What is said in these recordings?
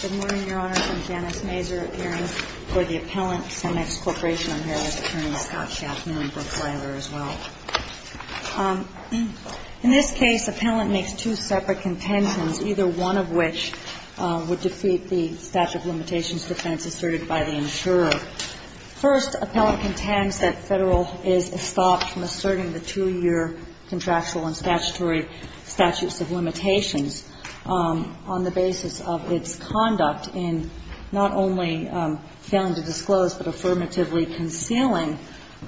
Good morning, Your Honor. I'm Janice Mazur, appearing for the Appellant SEMEX Corporation. I'm here with Attorney Scott Schaffner and Brooke Lever as well. In this case, Appellant makes two separate contentions, either one of which would defeat the statute of limitations defense asserted by the insurer. First, Appellant contends that Federal is stopped from asserting the two-year contractual and statutory statutes of limitations on the basis of its conduct in not only failing to disclose but affirmatively concealing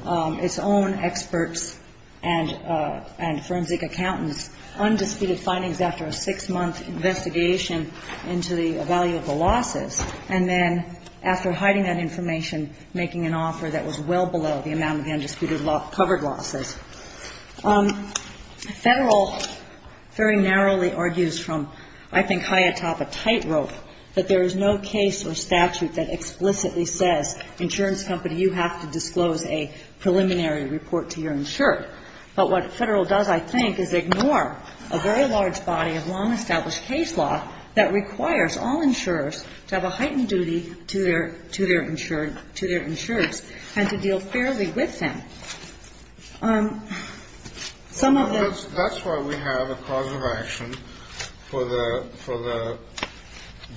its own experts and forensic accountants' undisputed findings after a six-month investigation into the value of the losses, and then, after hiding that information, making an offer that was well below the amount of the undisputed covered losses. Federal very narrowly argues from, I think, high atop a tightrope that there is no case or statute that explicitly says, insurance company, you have to disclose a preliminary report to your insured. But what Federal does, I think, is ignore a very large body of long-established case law that requires all insurers to have a heightened duty to their insured to their insurers and to deal fairly with them. Some of the ---- That's why we have a cause of action for the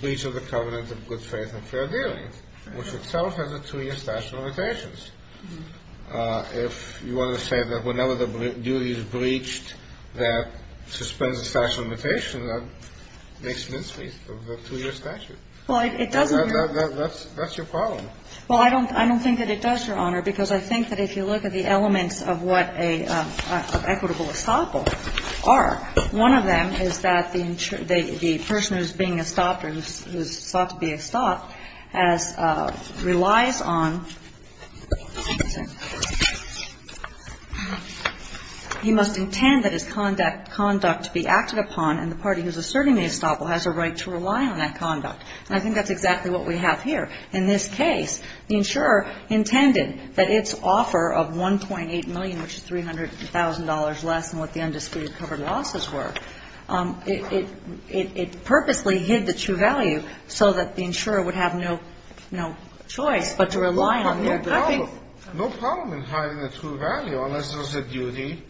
breach of the covenant of good faith and fair dealing, which itself has a two-year statute of limitations. If you want to say that whenever the duty is breached, that suspends the statute of limitations, that makes mincemeat of the two-year statute. Well, it doesn't. That's your problem. Well, I don't think that it does, Your Honor, because I think that if you look at the elements of what a equitable estoppel are, one of them is that the person who is being estopped or who is thought to be estopped has ---- relies on ---- he must intend that his conduct be acted upon, and the party who is asserting the estoppel has a right to rely on that conduct. And I think that's exactly what we have here. In this case, the insurer intended that its offer of $1.8 million, which is $300,000 less than what the undisputed covered losses were, it purposely hid the true value so that the insurer would have no choice but to rely on their belief. But no problem. No problem in hiding the true value unless there was a duty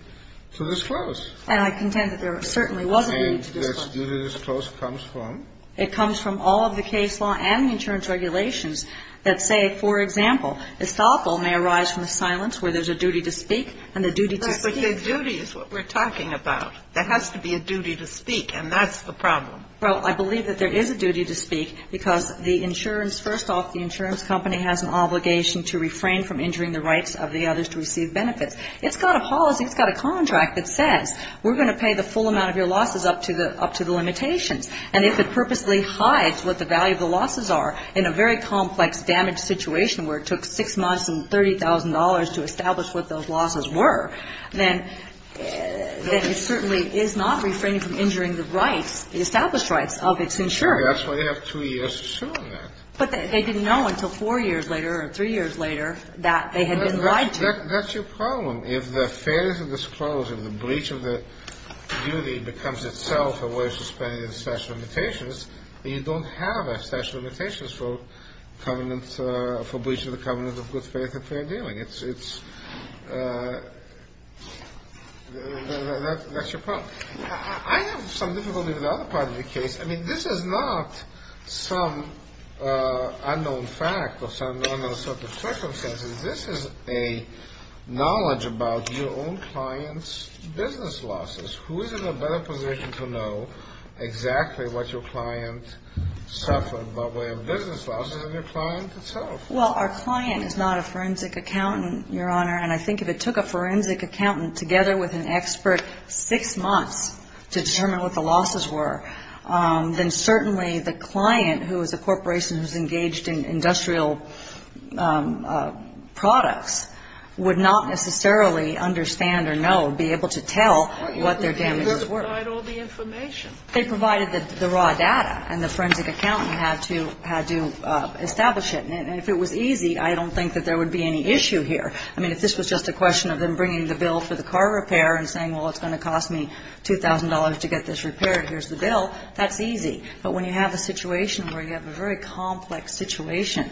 to disclose. And I contend that there certainly wasn't a duty to disclose. And that duty to disclose comes from? It comes from all of the case law and the insurance regulations that say, for example, estoppel may arise from the silence where there's a duty to speak, and the duty to speak ---- But the duty is what we're talking about. There has to be a duty to speak, and that's the problem. Well, I believe that there is a duty to speak because the insurance ---- first off, the insurance company has an obligation to refrain from injuring the rights of the others to receive benefits. It's got a policy, it's got a contract that says we're going to pay the full amount of your losses up to the limitations. And if it purposely hides what the value of the losses are in a very complex damage situation where it took 6 months and $30,000 to establish what those losses were, then it certainly is not refraining from injuring the rights, the established rights, of its insurers. That's why they have 2 years to sue them. But they didn't know until 4 years later or 3 years later that they had been lied to. That's your problem. If the failures of the scrolls and the breach of the duty becomes itself a way of suspending the statute of limitations, then you don't have a statute of limitations for breach of the covenant of good faith and fair dealing. It's ---- that's your problem. I have some difficulty with the other part of the case. I mean, this is not some unknown fact or some unknown set of circumstances. This is a knowledge about your own client's business losses. Who is in a better position to know exactly what your client suffered by way of business losses than your client itself? Well, our client is not a forensic accountant, Your Honor, and I think if it took a forensic accountant together with an expert 6 months to determine what the losses were, then certainly the client, who is a corporation who is engaged in industrial products, would not necessarily understand or know, be able to tell what their damages were. They provide all the information. They provided the raw data, and the forensic accountant had to establish it. And if it was easy, I don't think that there would be any issue here. I mean, if this was just a question of them bringing the bill for the car repair and saying, well, it's going to cost me $2,000 to get this repaired, here's the bill, that's easy. But when you have a situation where you have a very complex situation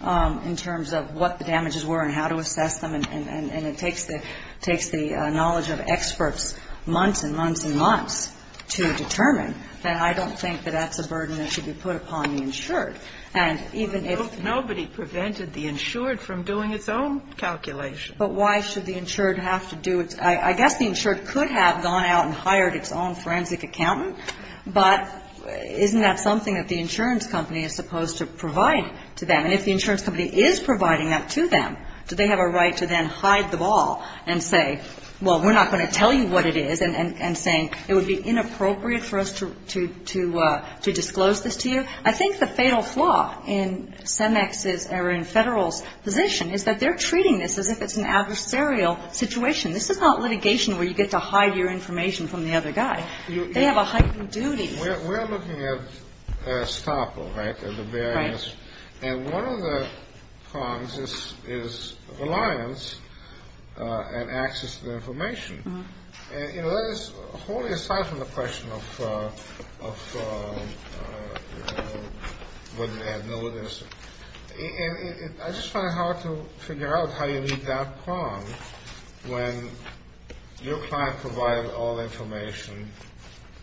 in terms of what the damages were and how to assess them, and it takes the knowledge of experts months and months and months to determine, then I don't think that that's a burden that should be put upon the insured. And even if ---- Nobody prevented the insured from doing its own calculation. But why should the insured have to do its ---- I guess the insured could have gone out and hired its own forensic accountant, but isn't that something that the insurance company is supposed to provide to them? And if the insurance company is providing that to them, do they have a right to then hide the ball and say, well, we're not going to tell you what it is, and saying it would be inappropriate for us to disclose this to you? I think the fatal flaw in CEMEX's or in Federal's position is that they're treating this as if it's an adversarial situation. This is not litigation where you get to hide your information from the other guy. They have a heightened duty. We're looking at estoppel, right, the barriers. Right. And one of the prongs is reliance and access to the information. And, you know, that is wholly aside from the question of whether they have no evidence. And I just find it hard to figure out how you meet that prong when your client provided all the information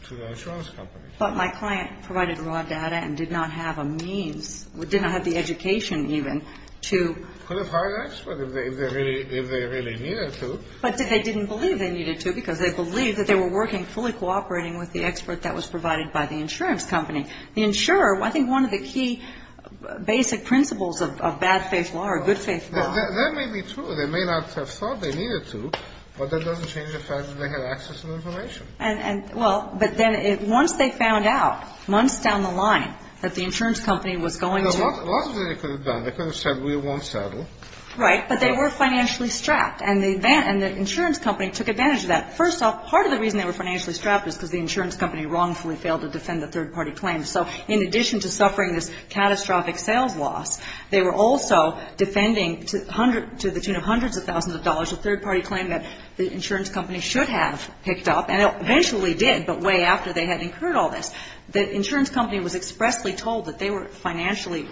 to the insurance company. But my client provided raw data and did not have a means, did not have the education even to ---- Could have hired an expert if they really needed to. But they didn't believe they needed to because they believed that they were working fully cooperating with the expert that was provided by the insurance company. The insurer, I think one of the key basic principles of bad-faith law or good-faith law ---- That may be true. They may not have thought they needed to, but that doesn't change the fact that they had access to the information. And, well, but then once they found out, months down the line, that the insurance company was going to ---- A lot of it they could have done. They could have said we won't settle. Right. But they were financially strapped. And the insurance company took advantage of that. First off, part of the reason they were financially strapped is because the insurance company wrongfully failed to defend the third-party claims. So in addition to suffering this catastrophic sales loss, they were also defending to the tune of hundreds of thousands of dollars a third-party claim that the insurance company should have picked up. And it eventually did, but way after they had incurred all this. The insurance company was expressly told that they were financially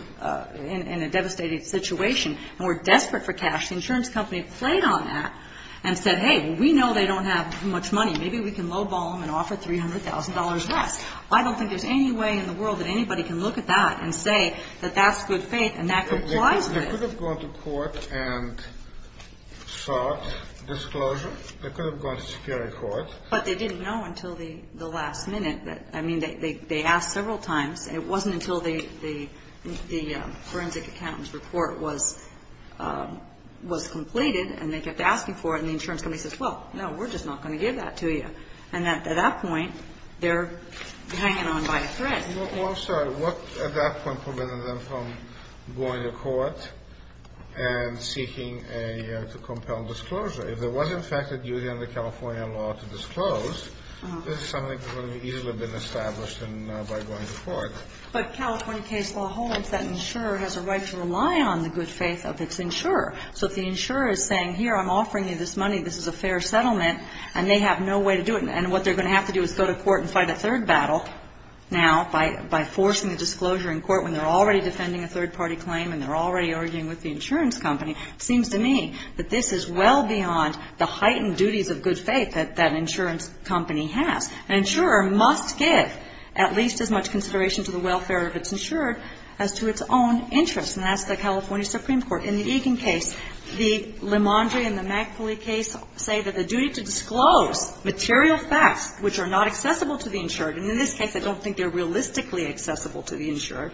in a devastated situation and were desperate for cash. The insurance company played on that and said, hey, we know they don't have much money. Maybe we can low-ball them and offer $300,000 less. I don't think there's any way in the world that anybody can look at that and say that that's good faith and that complies with ---- They could have gone to court and sought disclosure. They could have gone to security court. But they didn't know until the last minute. I mean, they asked several times. It wasn't until the forensic accountant's report was completed and they kept asking for it, and the insurance company says, well, no, we're just not going to give that to you. And at that point, they're hanging on by a thread. Well, sir, what at that point prevented them from going to court and seeking to compel disclosure? If there was, in fact, a duty under California law to disclose, this is something that would have easily been established by going to court. But California case law holds that an insurer has a right to rely on the good faith of its insurer. So if the insurer is saying, here, I'm offering you this money. This is a fair settlement. And they have no way to do it. And what they're going to have to do is go to court and fight a third battle now by forcing the disclosure in court when they're already defending a third-party claim and they're already arguing with the insurance company. It seems to me that this is well beyond the heightened duties of good faith that that insurance company has. An insurer must give at least as much consideration to the welfare of its insurer as to its own interests. And that's the California Supreme Court. In the Egan case, the Limandri and the McAuley case say that the duty to disclose material facts which are not accessible to the insurer, and in this case, I don't think they're realistically accessible to the insurer.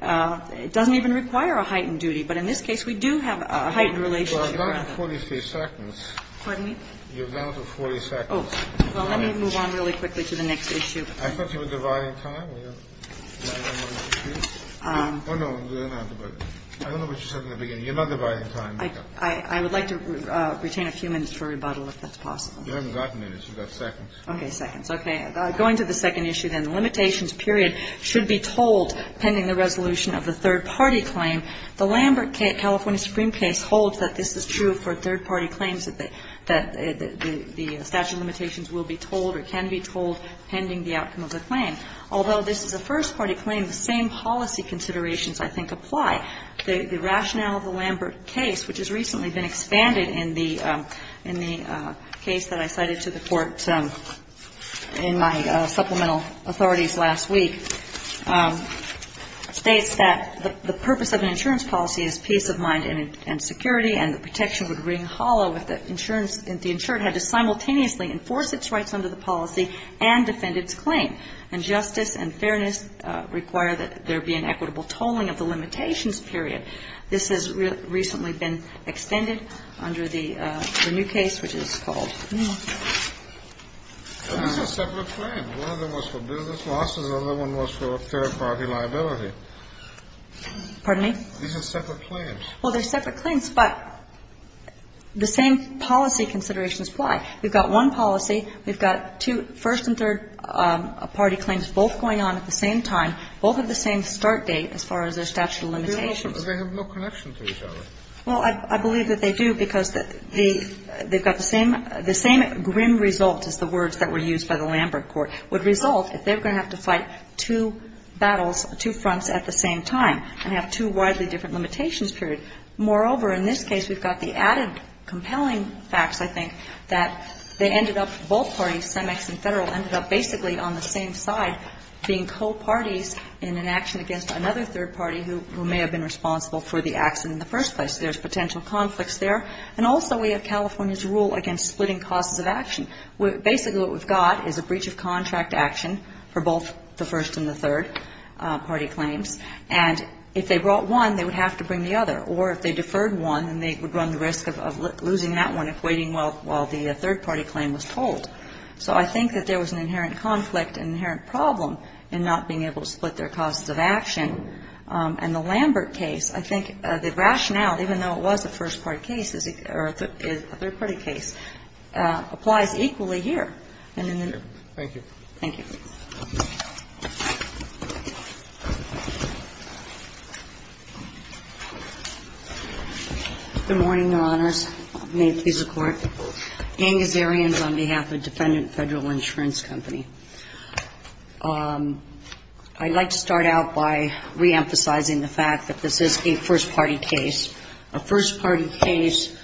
It doesn't even require a heightened duty. But in this case, we do have a heightened relationship. Kennedy. Well, I'm down to 43 seconds. Pardon me? You're down to 40 seconds. Oh. Well, let me move on really quickly to the next issue. I thought you were dividing time. Oh, no. I don't know what you said in the beginning. You're not dividing time. I would like to retain a few minutes for rebuttal if that's possible. You haven't got minutes. You've got seconds. Okay. Seconds. Okay. Going to the second issue, then. The limitations period should be told pending the resolution of the third-party claim. The Lambert case, California Supreme case, holds that this is true for third-party claims, that the statute of limitations will be told or can be told pending the outcome of the claim. Although this is a first-party claim, the same policy considerations, I think, apply. The rationale of the Lambert case, which has recently been expanded in the case that I cited to the Court in my supplemental authorities last week, states that the purpose of an insurance policy is peace of mind and security and the protection would ring hollow if the insured had to simultaneously enforce its rights under the policy and defend its claim. And justice and fairness require that there be an equitable tolling of the limitations period. This has recently been extended under the new case, which is called Lambert. These are separate claims. One of them was for business losses. Another one was for third-party liability. Pardon me? These are separate claims. Well, they're separate claims, but the same policy considerations apply. We've got one policy. We've got two first- and third-party claims both going on at the same time, both at the same start date as far as their statute of limitations. But they have no connection to each other. Well, I believe that they do because the they've got the same the same grim result as the words that were used by the Lambert Court would result if they were going to have to fight two battles, two fronts at the same time and have two widely different limitations period. Moreover, in this case, we've got the added compelling facts, I think, that they ended up, both parties, CEMEX and Federal, ended up basically on the same side being co-parties in an action against another third party who may have been responsible for the action in the first place. There's potential conflicts there. And also we have California's rule against splitting causes of action. Basically what we've got is a breach of contract action for both the first and the third party claims. And if they brought one, they would have to bring the other. Or if they deferred one, then they would run the risk of losing that one if waiting while the third party claim was told. So I think that there was an inherent conflict, an inherent problem in not being able to split their causes of action. And the Lambert case, I think the rationale, even though it was a first-party case, or a third-party case, applies equally here. And in the new. Thank you. Thank you. Good morning, Your Honors. May it please the Court. Anne Gazarian is on behalf of Defendant Federal Insurance Company. I'd like to start out by reemphasizing the fact that this is a first-party case, a first-party case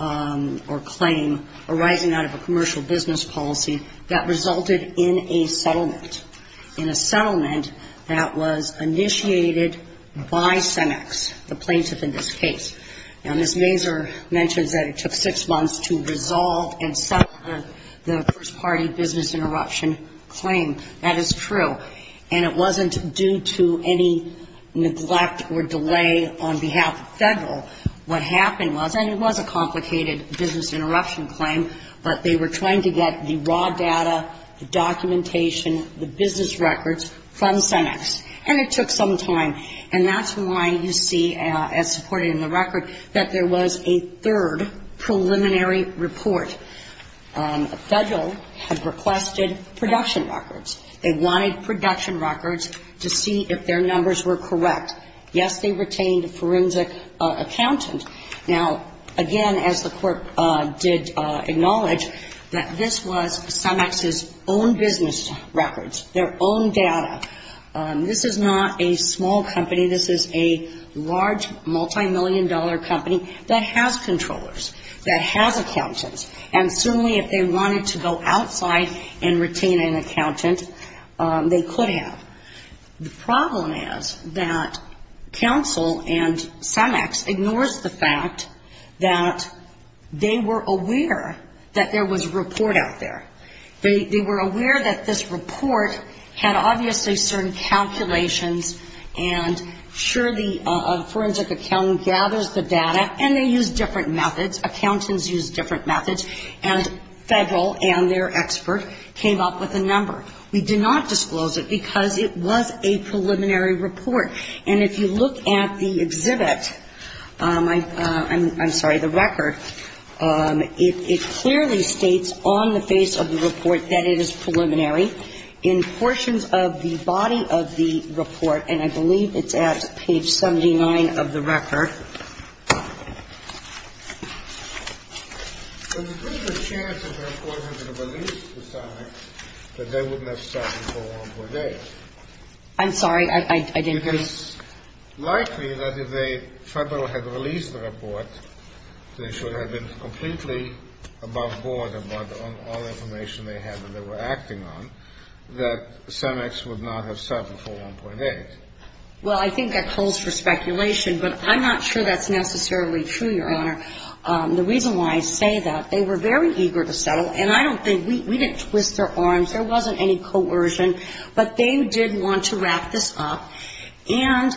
or claim arising out of a commercial business policy interruption that resulted in a settlement, in a settlement that was initiated by Senex, the plaintiff in this case. Now, Ms. Mazur mentions that it took six months to resolve and settle the first-party business interruption claim. That is true. And it wasn't due to any neglect or delay on behalf of Federal. What happened was, and it was a complicated business interruption claim, but they were trying to get the raw data, the documentation, the business records from Senex. And it took some time. And that's why you see, as supported in the record, that there was a third preliminary report. Federal had requested production records. They wanted production records to see if their numbers were correct. Yes, they retained a forensic accountant. Now, again, as the Court did acknowledge, that this was Senex's own business records, their own data. This is not a small company. This is a large multimillion-dollar company that has controllers, that has accountants. And certainly if they wanted to go outside and retain an accountant, they could have. The problem is that counsel and Senex ignores the fact that they were aware that there was a report out there. They were aware that this report had obviously certain calculations, and sure, the forensic accountant gathers the data, and they use different methods, accountants use different methods, and Federal and their expert came up with a number. We did not disclose it because it was a preliminary report. And if you look at the exhibit, I'm sorry, the record, it clearly states on the face of the report that it is preliminary. In portions of the body of the report, and I believe it's at page 79 of the record that it says, if there is a chance that the report has been released to Senex, that they would not have settled for 1.8. I'm sorry, I didn't hear you. It's likely that if Federal had released the report, they should have been completely above board about all the information they had, that they were acting on, that Senex would not have settled for 1.8. Well, I think that calls for speculation, but I'm not sure that's necessarily true, Your Honor. The reason why I say that, they were very eager to settle, and I don't think, we didn't twist their arms, there wasn't any coercion, but they did want to wrap this up, and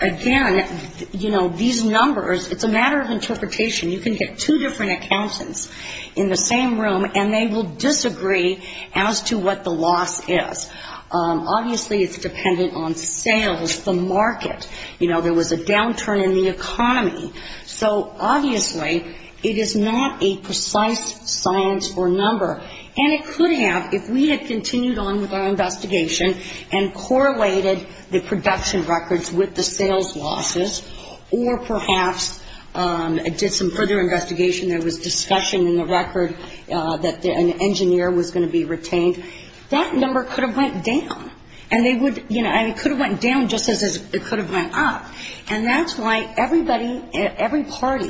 again, you know, these numbers, it's a matter of interpretation. You can get two different accountants in the same room, and they will disagree as to what the loss is. Obviously, it's dependent on sales, the market. You know, there was a downturn in the economy. So obviously, it is not a precise science or number, and it could have, if we had continued on with our investigation and correlated the production records with the sales losses, or perhaps did some further investigation, there was discussion in the record that an engineer was going to be retained, that number could have went down, and they would, you know, and it could have went down just as it could have went up, and that's why everybody, every party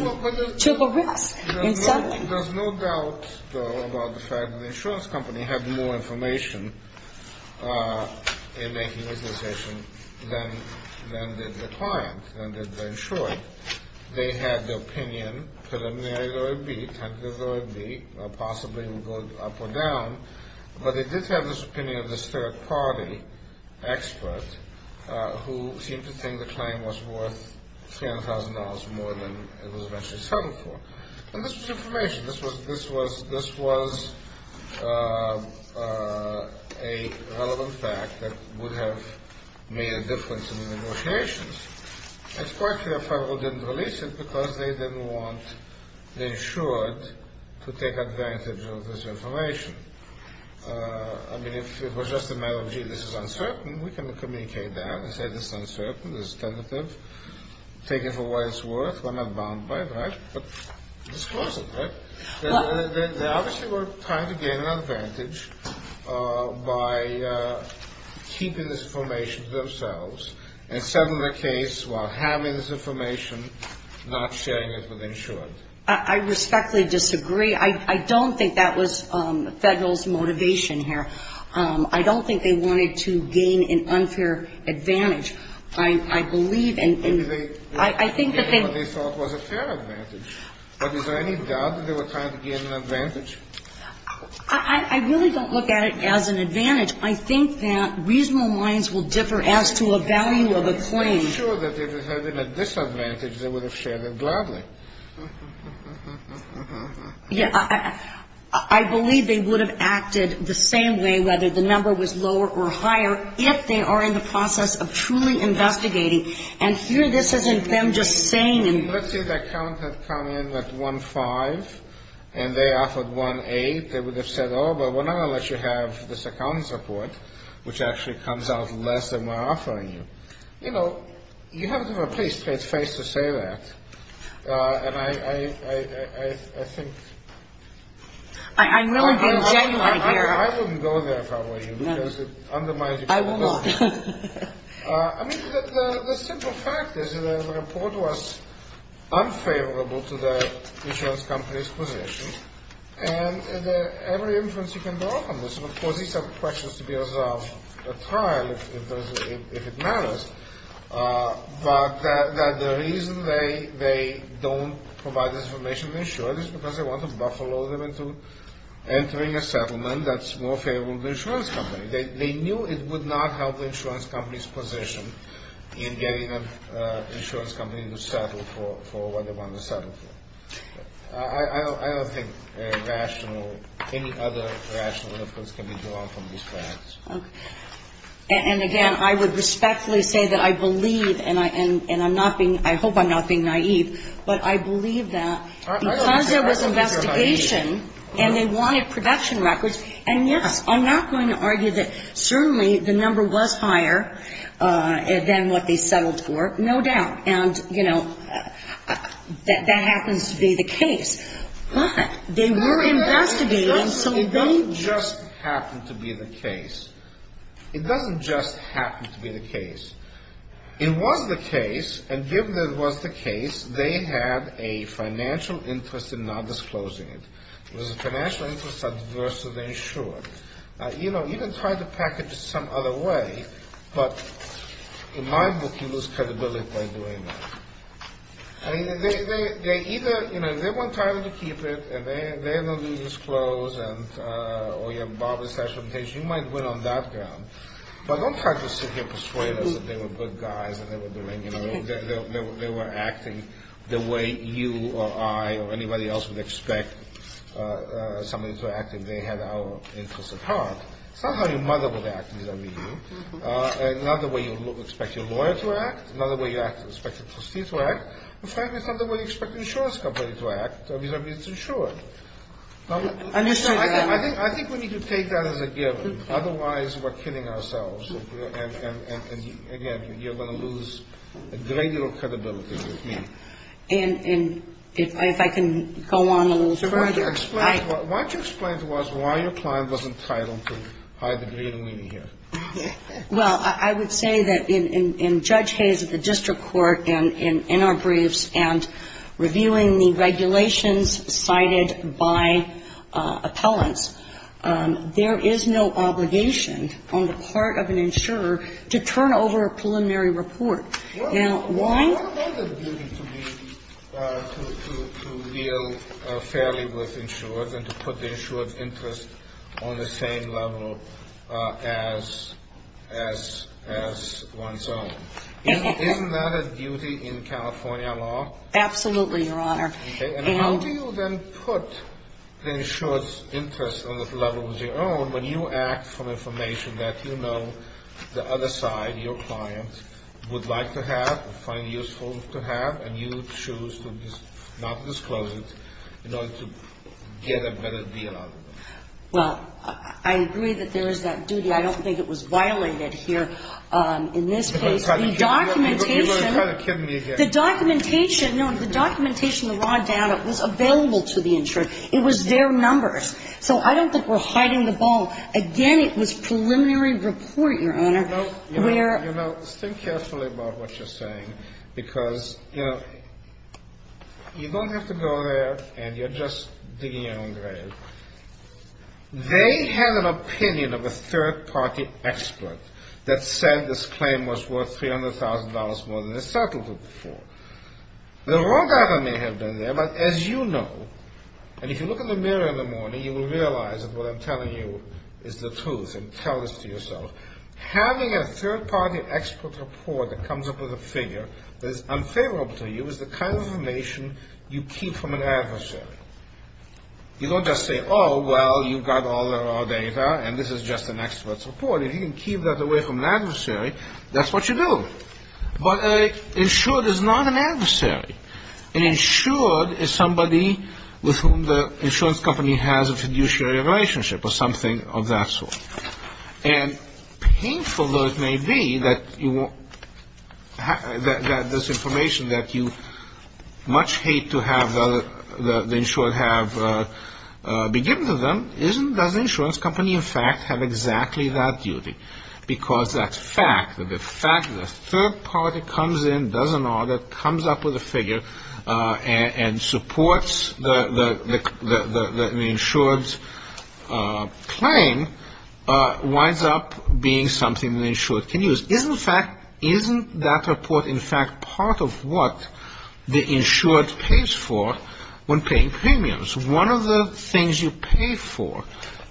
took a risk in settling. There's no doubt, though, about the fact that the insurance company had more information in making this decision than did the client, than did the insurer. They had the opinion, could have narrowed it or beat, possibly would go up or down, but they did have this opinion of this third-party expert who seemed to think the claim was worth $300,000 more than it was actually settled for. And this was information. This was a relevant fact that would have made a difference in the negotiations. It's quite clear Federal didn't release it because they didn't want, they should, to take advantage of this information. I mean, if it was just a matter of, gee, this is uncertain, we can communicate that and say this is uncertain, this is tentative, take it for what it's worth, we're not bound by it, right? But disclose it, right? They obviously were trying to gain an advantage by keeping this information to themselves and settling the case while having this information, not sharing it with the insurer. I respectfully disagree. I don't think that was Federal's motivation here. I don't think they wanted to gain an unfair advantage. I believe and I think that they ---- Maybe they wanted to gain what they thought was a fair advantage. But is there any doubt that they were trying to gain an advantage? I really don't look at it as an advantage. I think that reasonable minds will differ as to a value of a claim. I'm sure that if it had been a disadvantage, they would have shared it gladly. Yeah, I believe they would have acted the same way, whether the number was lower or higher, if they are in the process of truly investigating. And here this isn't them just saying ---- Let's say the account had come in at 1-5 and they offered 1-8, they would have said, oh, but we're not going to let you have this accounting support, which actually comes out less than we're offering you. You know, you have to have a pretty straight face to say that. And I think ---- I'm really being genuine here. I wouldn't go there if I were you because it undermines your credibility. I will not. I mean, the simple fact is that the report was unfavorable to the insurance company's position. And every inference you can draw from this, of course, these are questions to be resolved at trial if it matters. But the reason they don't provide this information to the insurance is because they want to buffalo them into entering a settlement that's more favorable to the insurance company. They knew it would not help the insurance company's position in getting an insurance company to settle for what they wanted to settle for. I don't think rational, any other rational inference can be drawn from these facts. Okay. And again, I would respectfully say that I believe, and I'm not being ---- I hope I'm not being naive, but I believe that because there was investigation and they wanted production records, and yes, I'm not going to argue that certainly the number was higher than what they settled for, no doubt. And, you know, that happens to be the case. But they were investigating, so they ---- It doesn't just happen to be the case. It doesn't just happen to be the case. It was the case, and given that it was the case, they had a financial interest in not disclosing it. It was a financial interest adverse to the insurance. You know, you can try to package it some other way, but in my book, you lose credibility by doing that. I mean, they either, you know, if they weren't trying to keep it, and they don't do these clothes, or you have a barber's station, you might win on that ground. But don't try to sit here persuading us that they were good guys, and they were doing, you know, they were acting the way you or I or anybody else would expect somebody to act if they had our interest at heart. It's not how your mother would act, you know what I mean? It's not the way you expect your lawyer to act. It's not the way you expect your trustee to act. In fact, it's not the way you expect the insurance company to act. I mean, it's insured. I think we need to take that as a given. Otherwise, we're kidding ourselves. And, again, you're going to lose a great deal of credibility with me. And if I can go on a little further. Why don't you explain to us why your client was entitled to hide the green weenie here? Well, I would say that in Judge Hayes' district court, in our briefs, and reviewing the regulations cited by appellants, there is no obligation on the part of an insurer to turn over a preliminary report. Now, why? What about the duty to deal fairly with insurers and to put the insurer's interest on the same level as one's own? Isn't that a duty in California law? Absolutely, Your Honor. And how do you then put the insurer's interest on the level of your own when you act from information that you know the other side, your client, would like to have or find useful to have, and you choose to not disclose it in order to get a better deal out of it? Well, I agree that there is that duty. I don't think it was violated here in this case. You're going to try to kid me again. The documentation, the raw data was available to the insurer. It was their numbers. So I don't think we're hiding the ball. Again, it was preliminary report, Your Honor. You know, think carefully about what you're saying because, you know, you don't have to go there and you're just digging your own grave. They had an opinion of a third-party expert that said this claim was worth $300,000 more than the settlement before. The raw data may have been there, but as you know, and if you look in the mirror in the morning, you will realize that what I'm telling you is the truth, and tell this to yourself. Having a third-party expert report that comes up with a figure that is unfavorable to you is the kind of information you keep from an adversary. You don't just say, oh, well, you've got all the raw data, and this is just an expert's report. If you can keep that away from an adversary, that's what you do. But an insured is not an adversary. An insured is somebody with whom the insurance company has a fiduciary relationship or something of that sort. And painful though it may be that you won't have this information that you much hate to have the insured have be given to them, doesn't the insurance company, in fact, have exactly that duty? Because that's fact. The fact that a third-party comes in, does an audit, comes up with a figure and supports the insured's claim, winds up being something the insured can use. Isn't that report, in fact, part of what the insured pays for when paying premiums? One of the things you pay for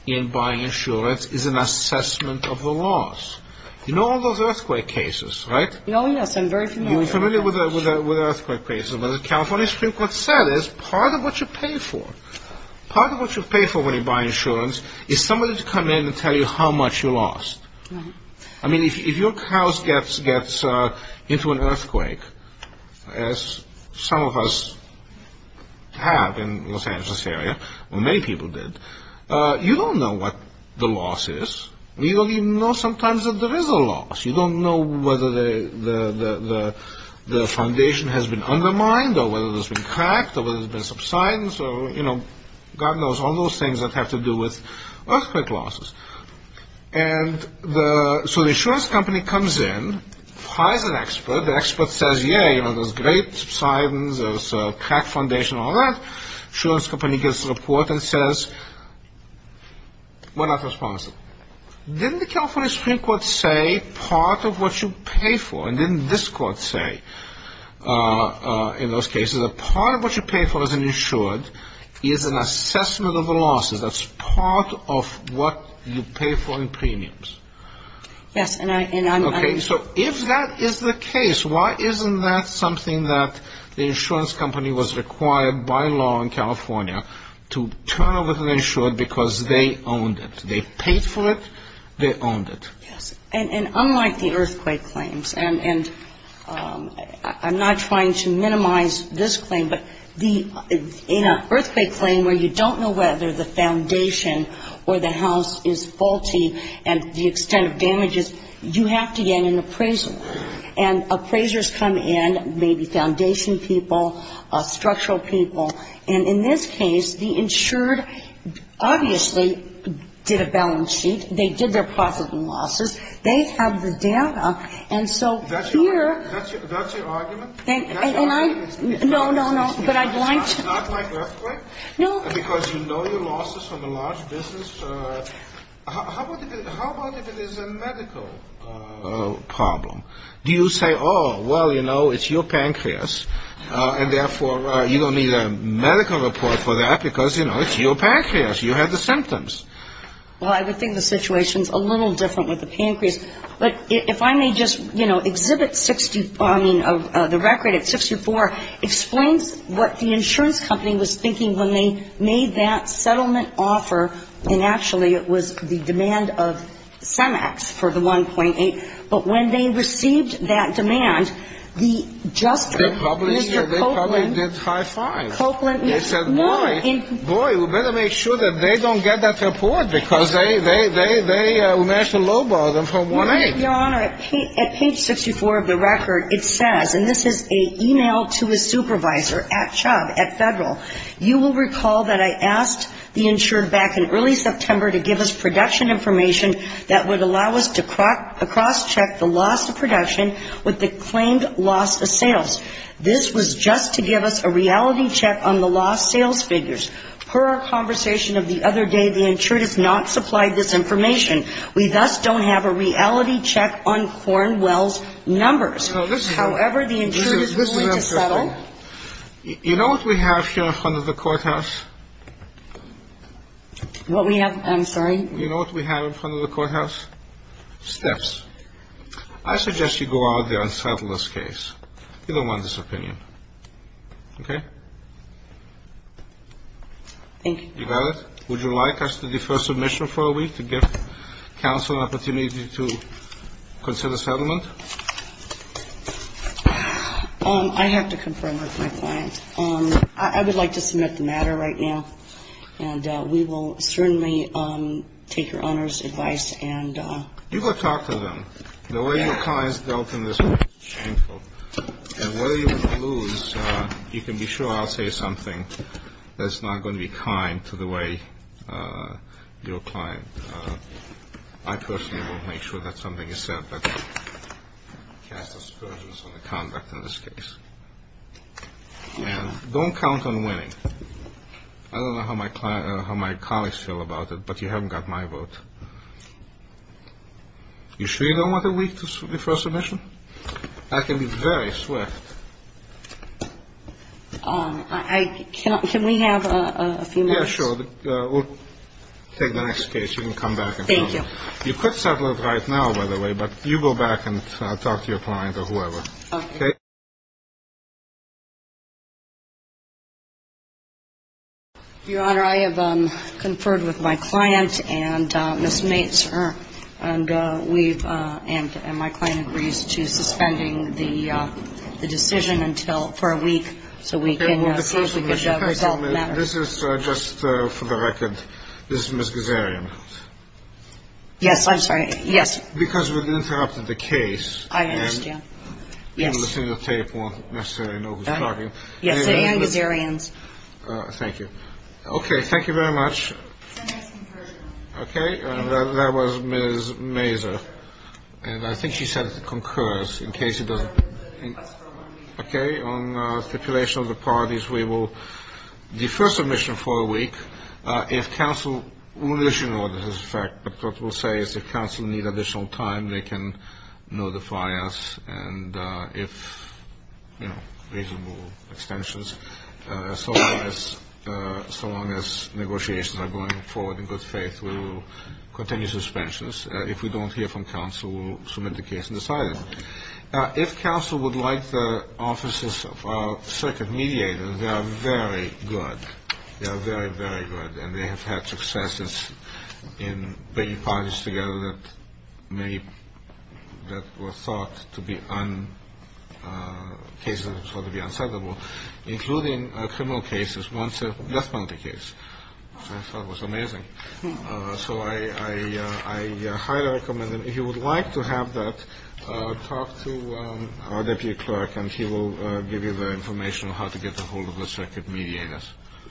in buying insurance is an assessment of the loss. You know all those earthquake cases, right? Oh, yes, I'm very familiar. You're familiar with earthquake cases, but the California Supreme Court said it's part of what you pay for. Part of what you pay for when you buy insurance is somebody to come in and tell you how much you lost. I mean, if your house gets into an earthquake, as some of us have in Los Angeles area, or many people did, you don't know what the loss is. You don't even know sometimes that there is a loss. You don't know whether the foundation has been undermined, or whether there's been cracked, or whether there's been subsidence, or, you know, God knows all those things that have to do with earthquake losses. And so the insurance company comes in, hires an expert, the expert says, yeah, you know, there's great subsidence, there's a cracked foundation, all that. Insurance company gets the report and says, we're not responsible. Didn't the California Supreme Court say part of what you pay for, and didn't this Court say in those cases, that part of what you pay for as an insured is an assessment of the losses? That's part of what you pay for in premiums. Yes, and I'm going to ---- Okay, so if that is the case, why isn't that something that the insurance company was required by law in California to turn over to the insured because they owned it? They paid for it. They owned it. Yes, and unlike the earthquake claims, and I'm not trying to minimize this claim, but in an earthquake claim where you don't know whether the foundation or the house is faulty and the extent of damages, you have to get an appraiser. And appraisers come in, maybe foundation people, structural people, and in this case, the insured obviously did a balance sheet. They did their profit and losses. They have the data. And so here ---- That's your argument? No, no, no. But I'd like to ---- Not like earthquake? No. Because you know your losses from the large business. How about if it is a medical problem? Do you say, oh, well, you know, it's your pancreas, and therefore you don't need a medical report for that because, you know, it's your pancreas. You have the symptoms. Well, I would think the situation is a little different with the pancreas. But if I may just, you know, exhibit the record at 64, explains what the insurance company was thinking when they made that settlement offer, and actually it was the demand of CEMEX for the 1.8, but when they received that demand, the justice, Mr. Copeland ---- They probably did high-fives. They said, boy, boy, we better make sure that they don't get that report because they managed to low-bar them for 1.8. Your Honor, at page 64 of the record, it says, and this is an e-mail to a supervisor at Chubb at Federal, you will recall that I asked the insured back in early September to give us production information that would allow us to cross-check the loss of production with the claimed loss of sales. This was just to give us a reality check on the lost sales figures. Per our conversation of the other day, the insured has not supplied this information. We thus don't have a reality check on Cornwell's numbers. However, the insured is willing to settle. You know what we have here in front of the courthouse? What we have? I'm sorry? You know what we have in front of the courthouse? Steps. I suggest you go out there and settle this case. You don't want this opinion. Okay? Thank you. You got it? Would you like us to defer submission for a week to give counsel an opportunity to consider settlement? I have to confirm with my client. I would like to submit the matter right now. And we will certainly take your owner's advice. You go talk to them. The way your client has dealt in this case is shameful. And whether you lose, you can be sure I'll say something that's not going to be kind to the way your client. I personally will make sure that something is said that casts aspersions on the conduct in this case. And don't count on winning. I don't know how my colleagues feel about it, but you haven't got my vote. You sure you don't want a week to defer submission? I can be very swift. Can we have a few minutes? Yeah, sure. We'll take the next case. You can come back and tell me. Thank you. You could settle it right now, by the way, but you go back and talk to your client or whoever. Okay. Your Honor, I have conferred with my client and my client agrees to suspending the decision for a week, so we can see if we can resolve the matter. This is just for the record. This is Ms. Gazarian. Yes, I'm sorry. Yes. Because we've interrupted the case. I understand. Yes. People listening to the tape won't necessarily know who's talking. Yes, sitting on Gazarian's. Thank you. Okay. Thank you very much. It's the next concursion. Okay. And that was Ms. Mazur. And I think she said concurs, in case it doesn't. Okay. On stipulation of the parties, we will defer submission for a week. If counsel, we will issue an order to this effect, but what we'll say is if counsel needs additional time, they can notify us. And if, you know, reasonable extensions, so long as negotiations are going forward in good faith, we will continue suspensions. If we don't hear from counsel, we'll submit the case and decide it. If counsel would like the offices of our circuit mediators, they are very good. They are very, very good, and they have had successes in bringing parties together that were thought to be unsettlable, including criminal cases, one death penalty case. I thought it was amazing. So I highly recommend them. If you would like to have that, talk to our deputy clerk, and he will give you the information on how to get a hold of the circuit mediators.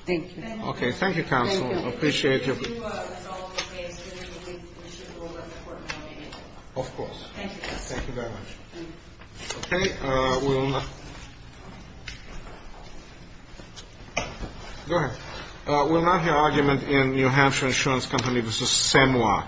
Thank you. Okay. Thank you, counsel. Thank you. Appreciate your. If you do resolve the case, we should hold up the court meeting. Of course. Thank you, counsel. Thank you very much. Okay. We'll now. Go ahead. We'll now hear argument in New Hampshire Insurance Company v. SEMWA.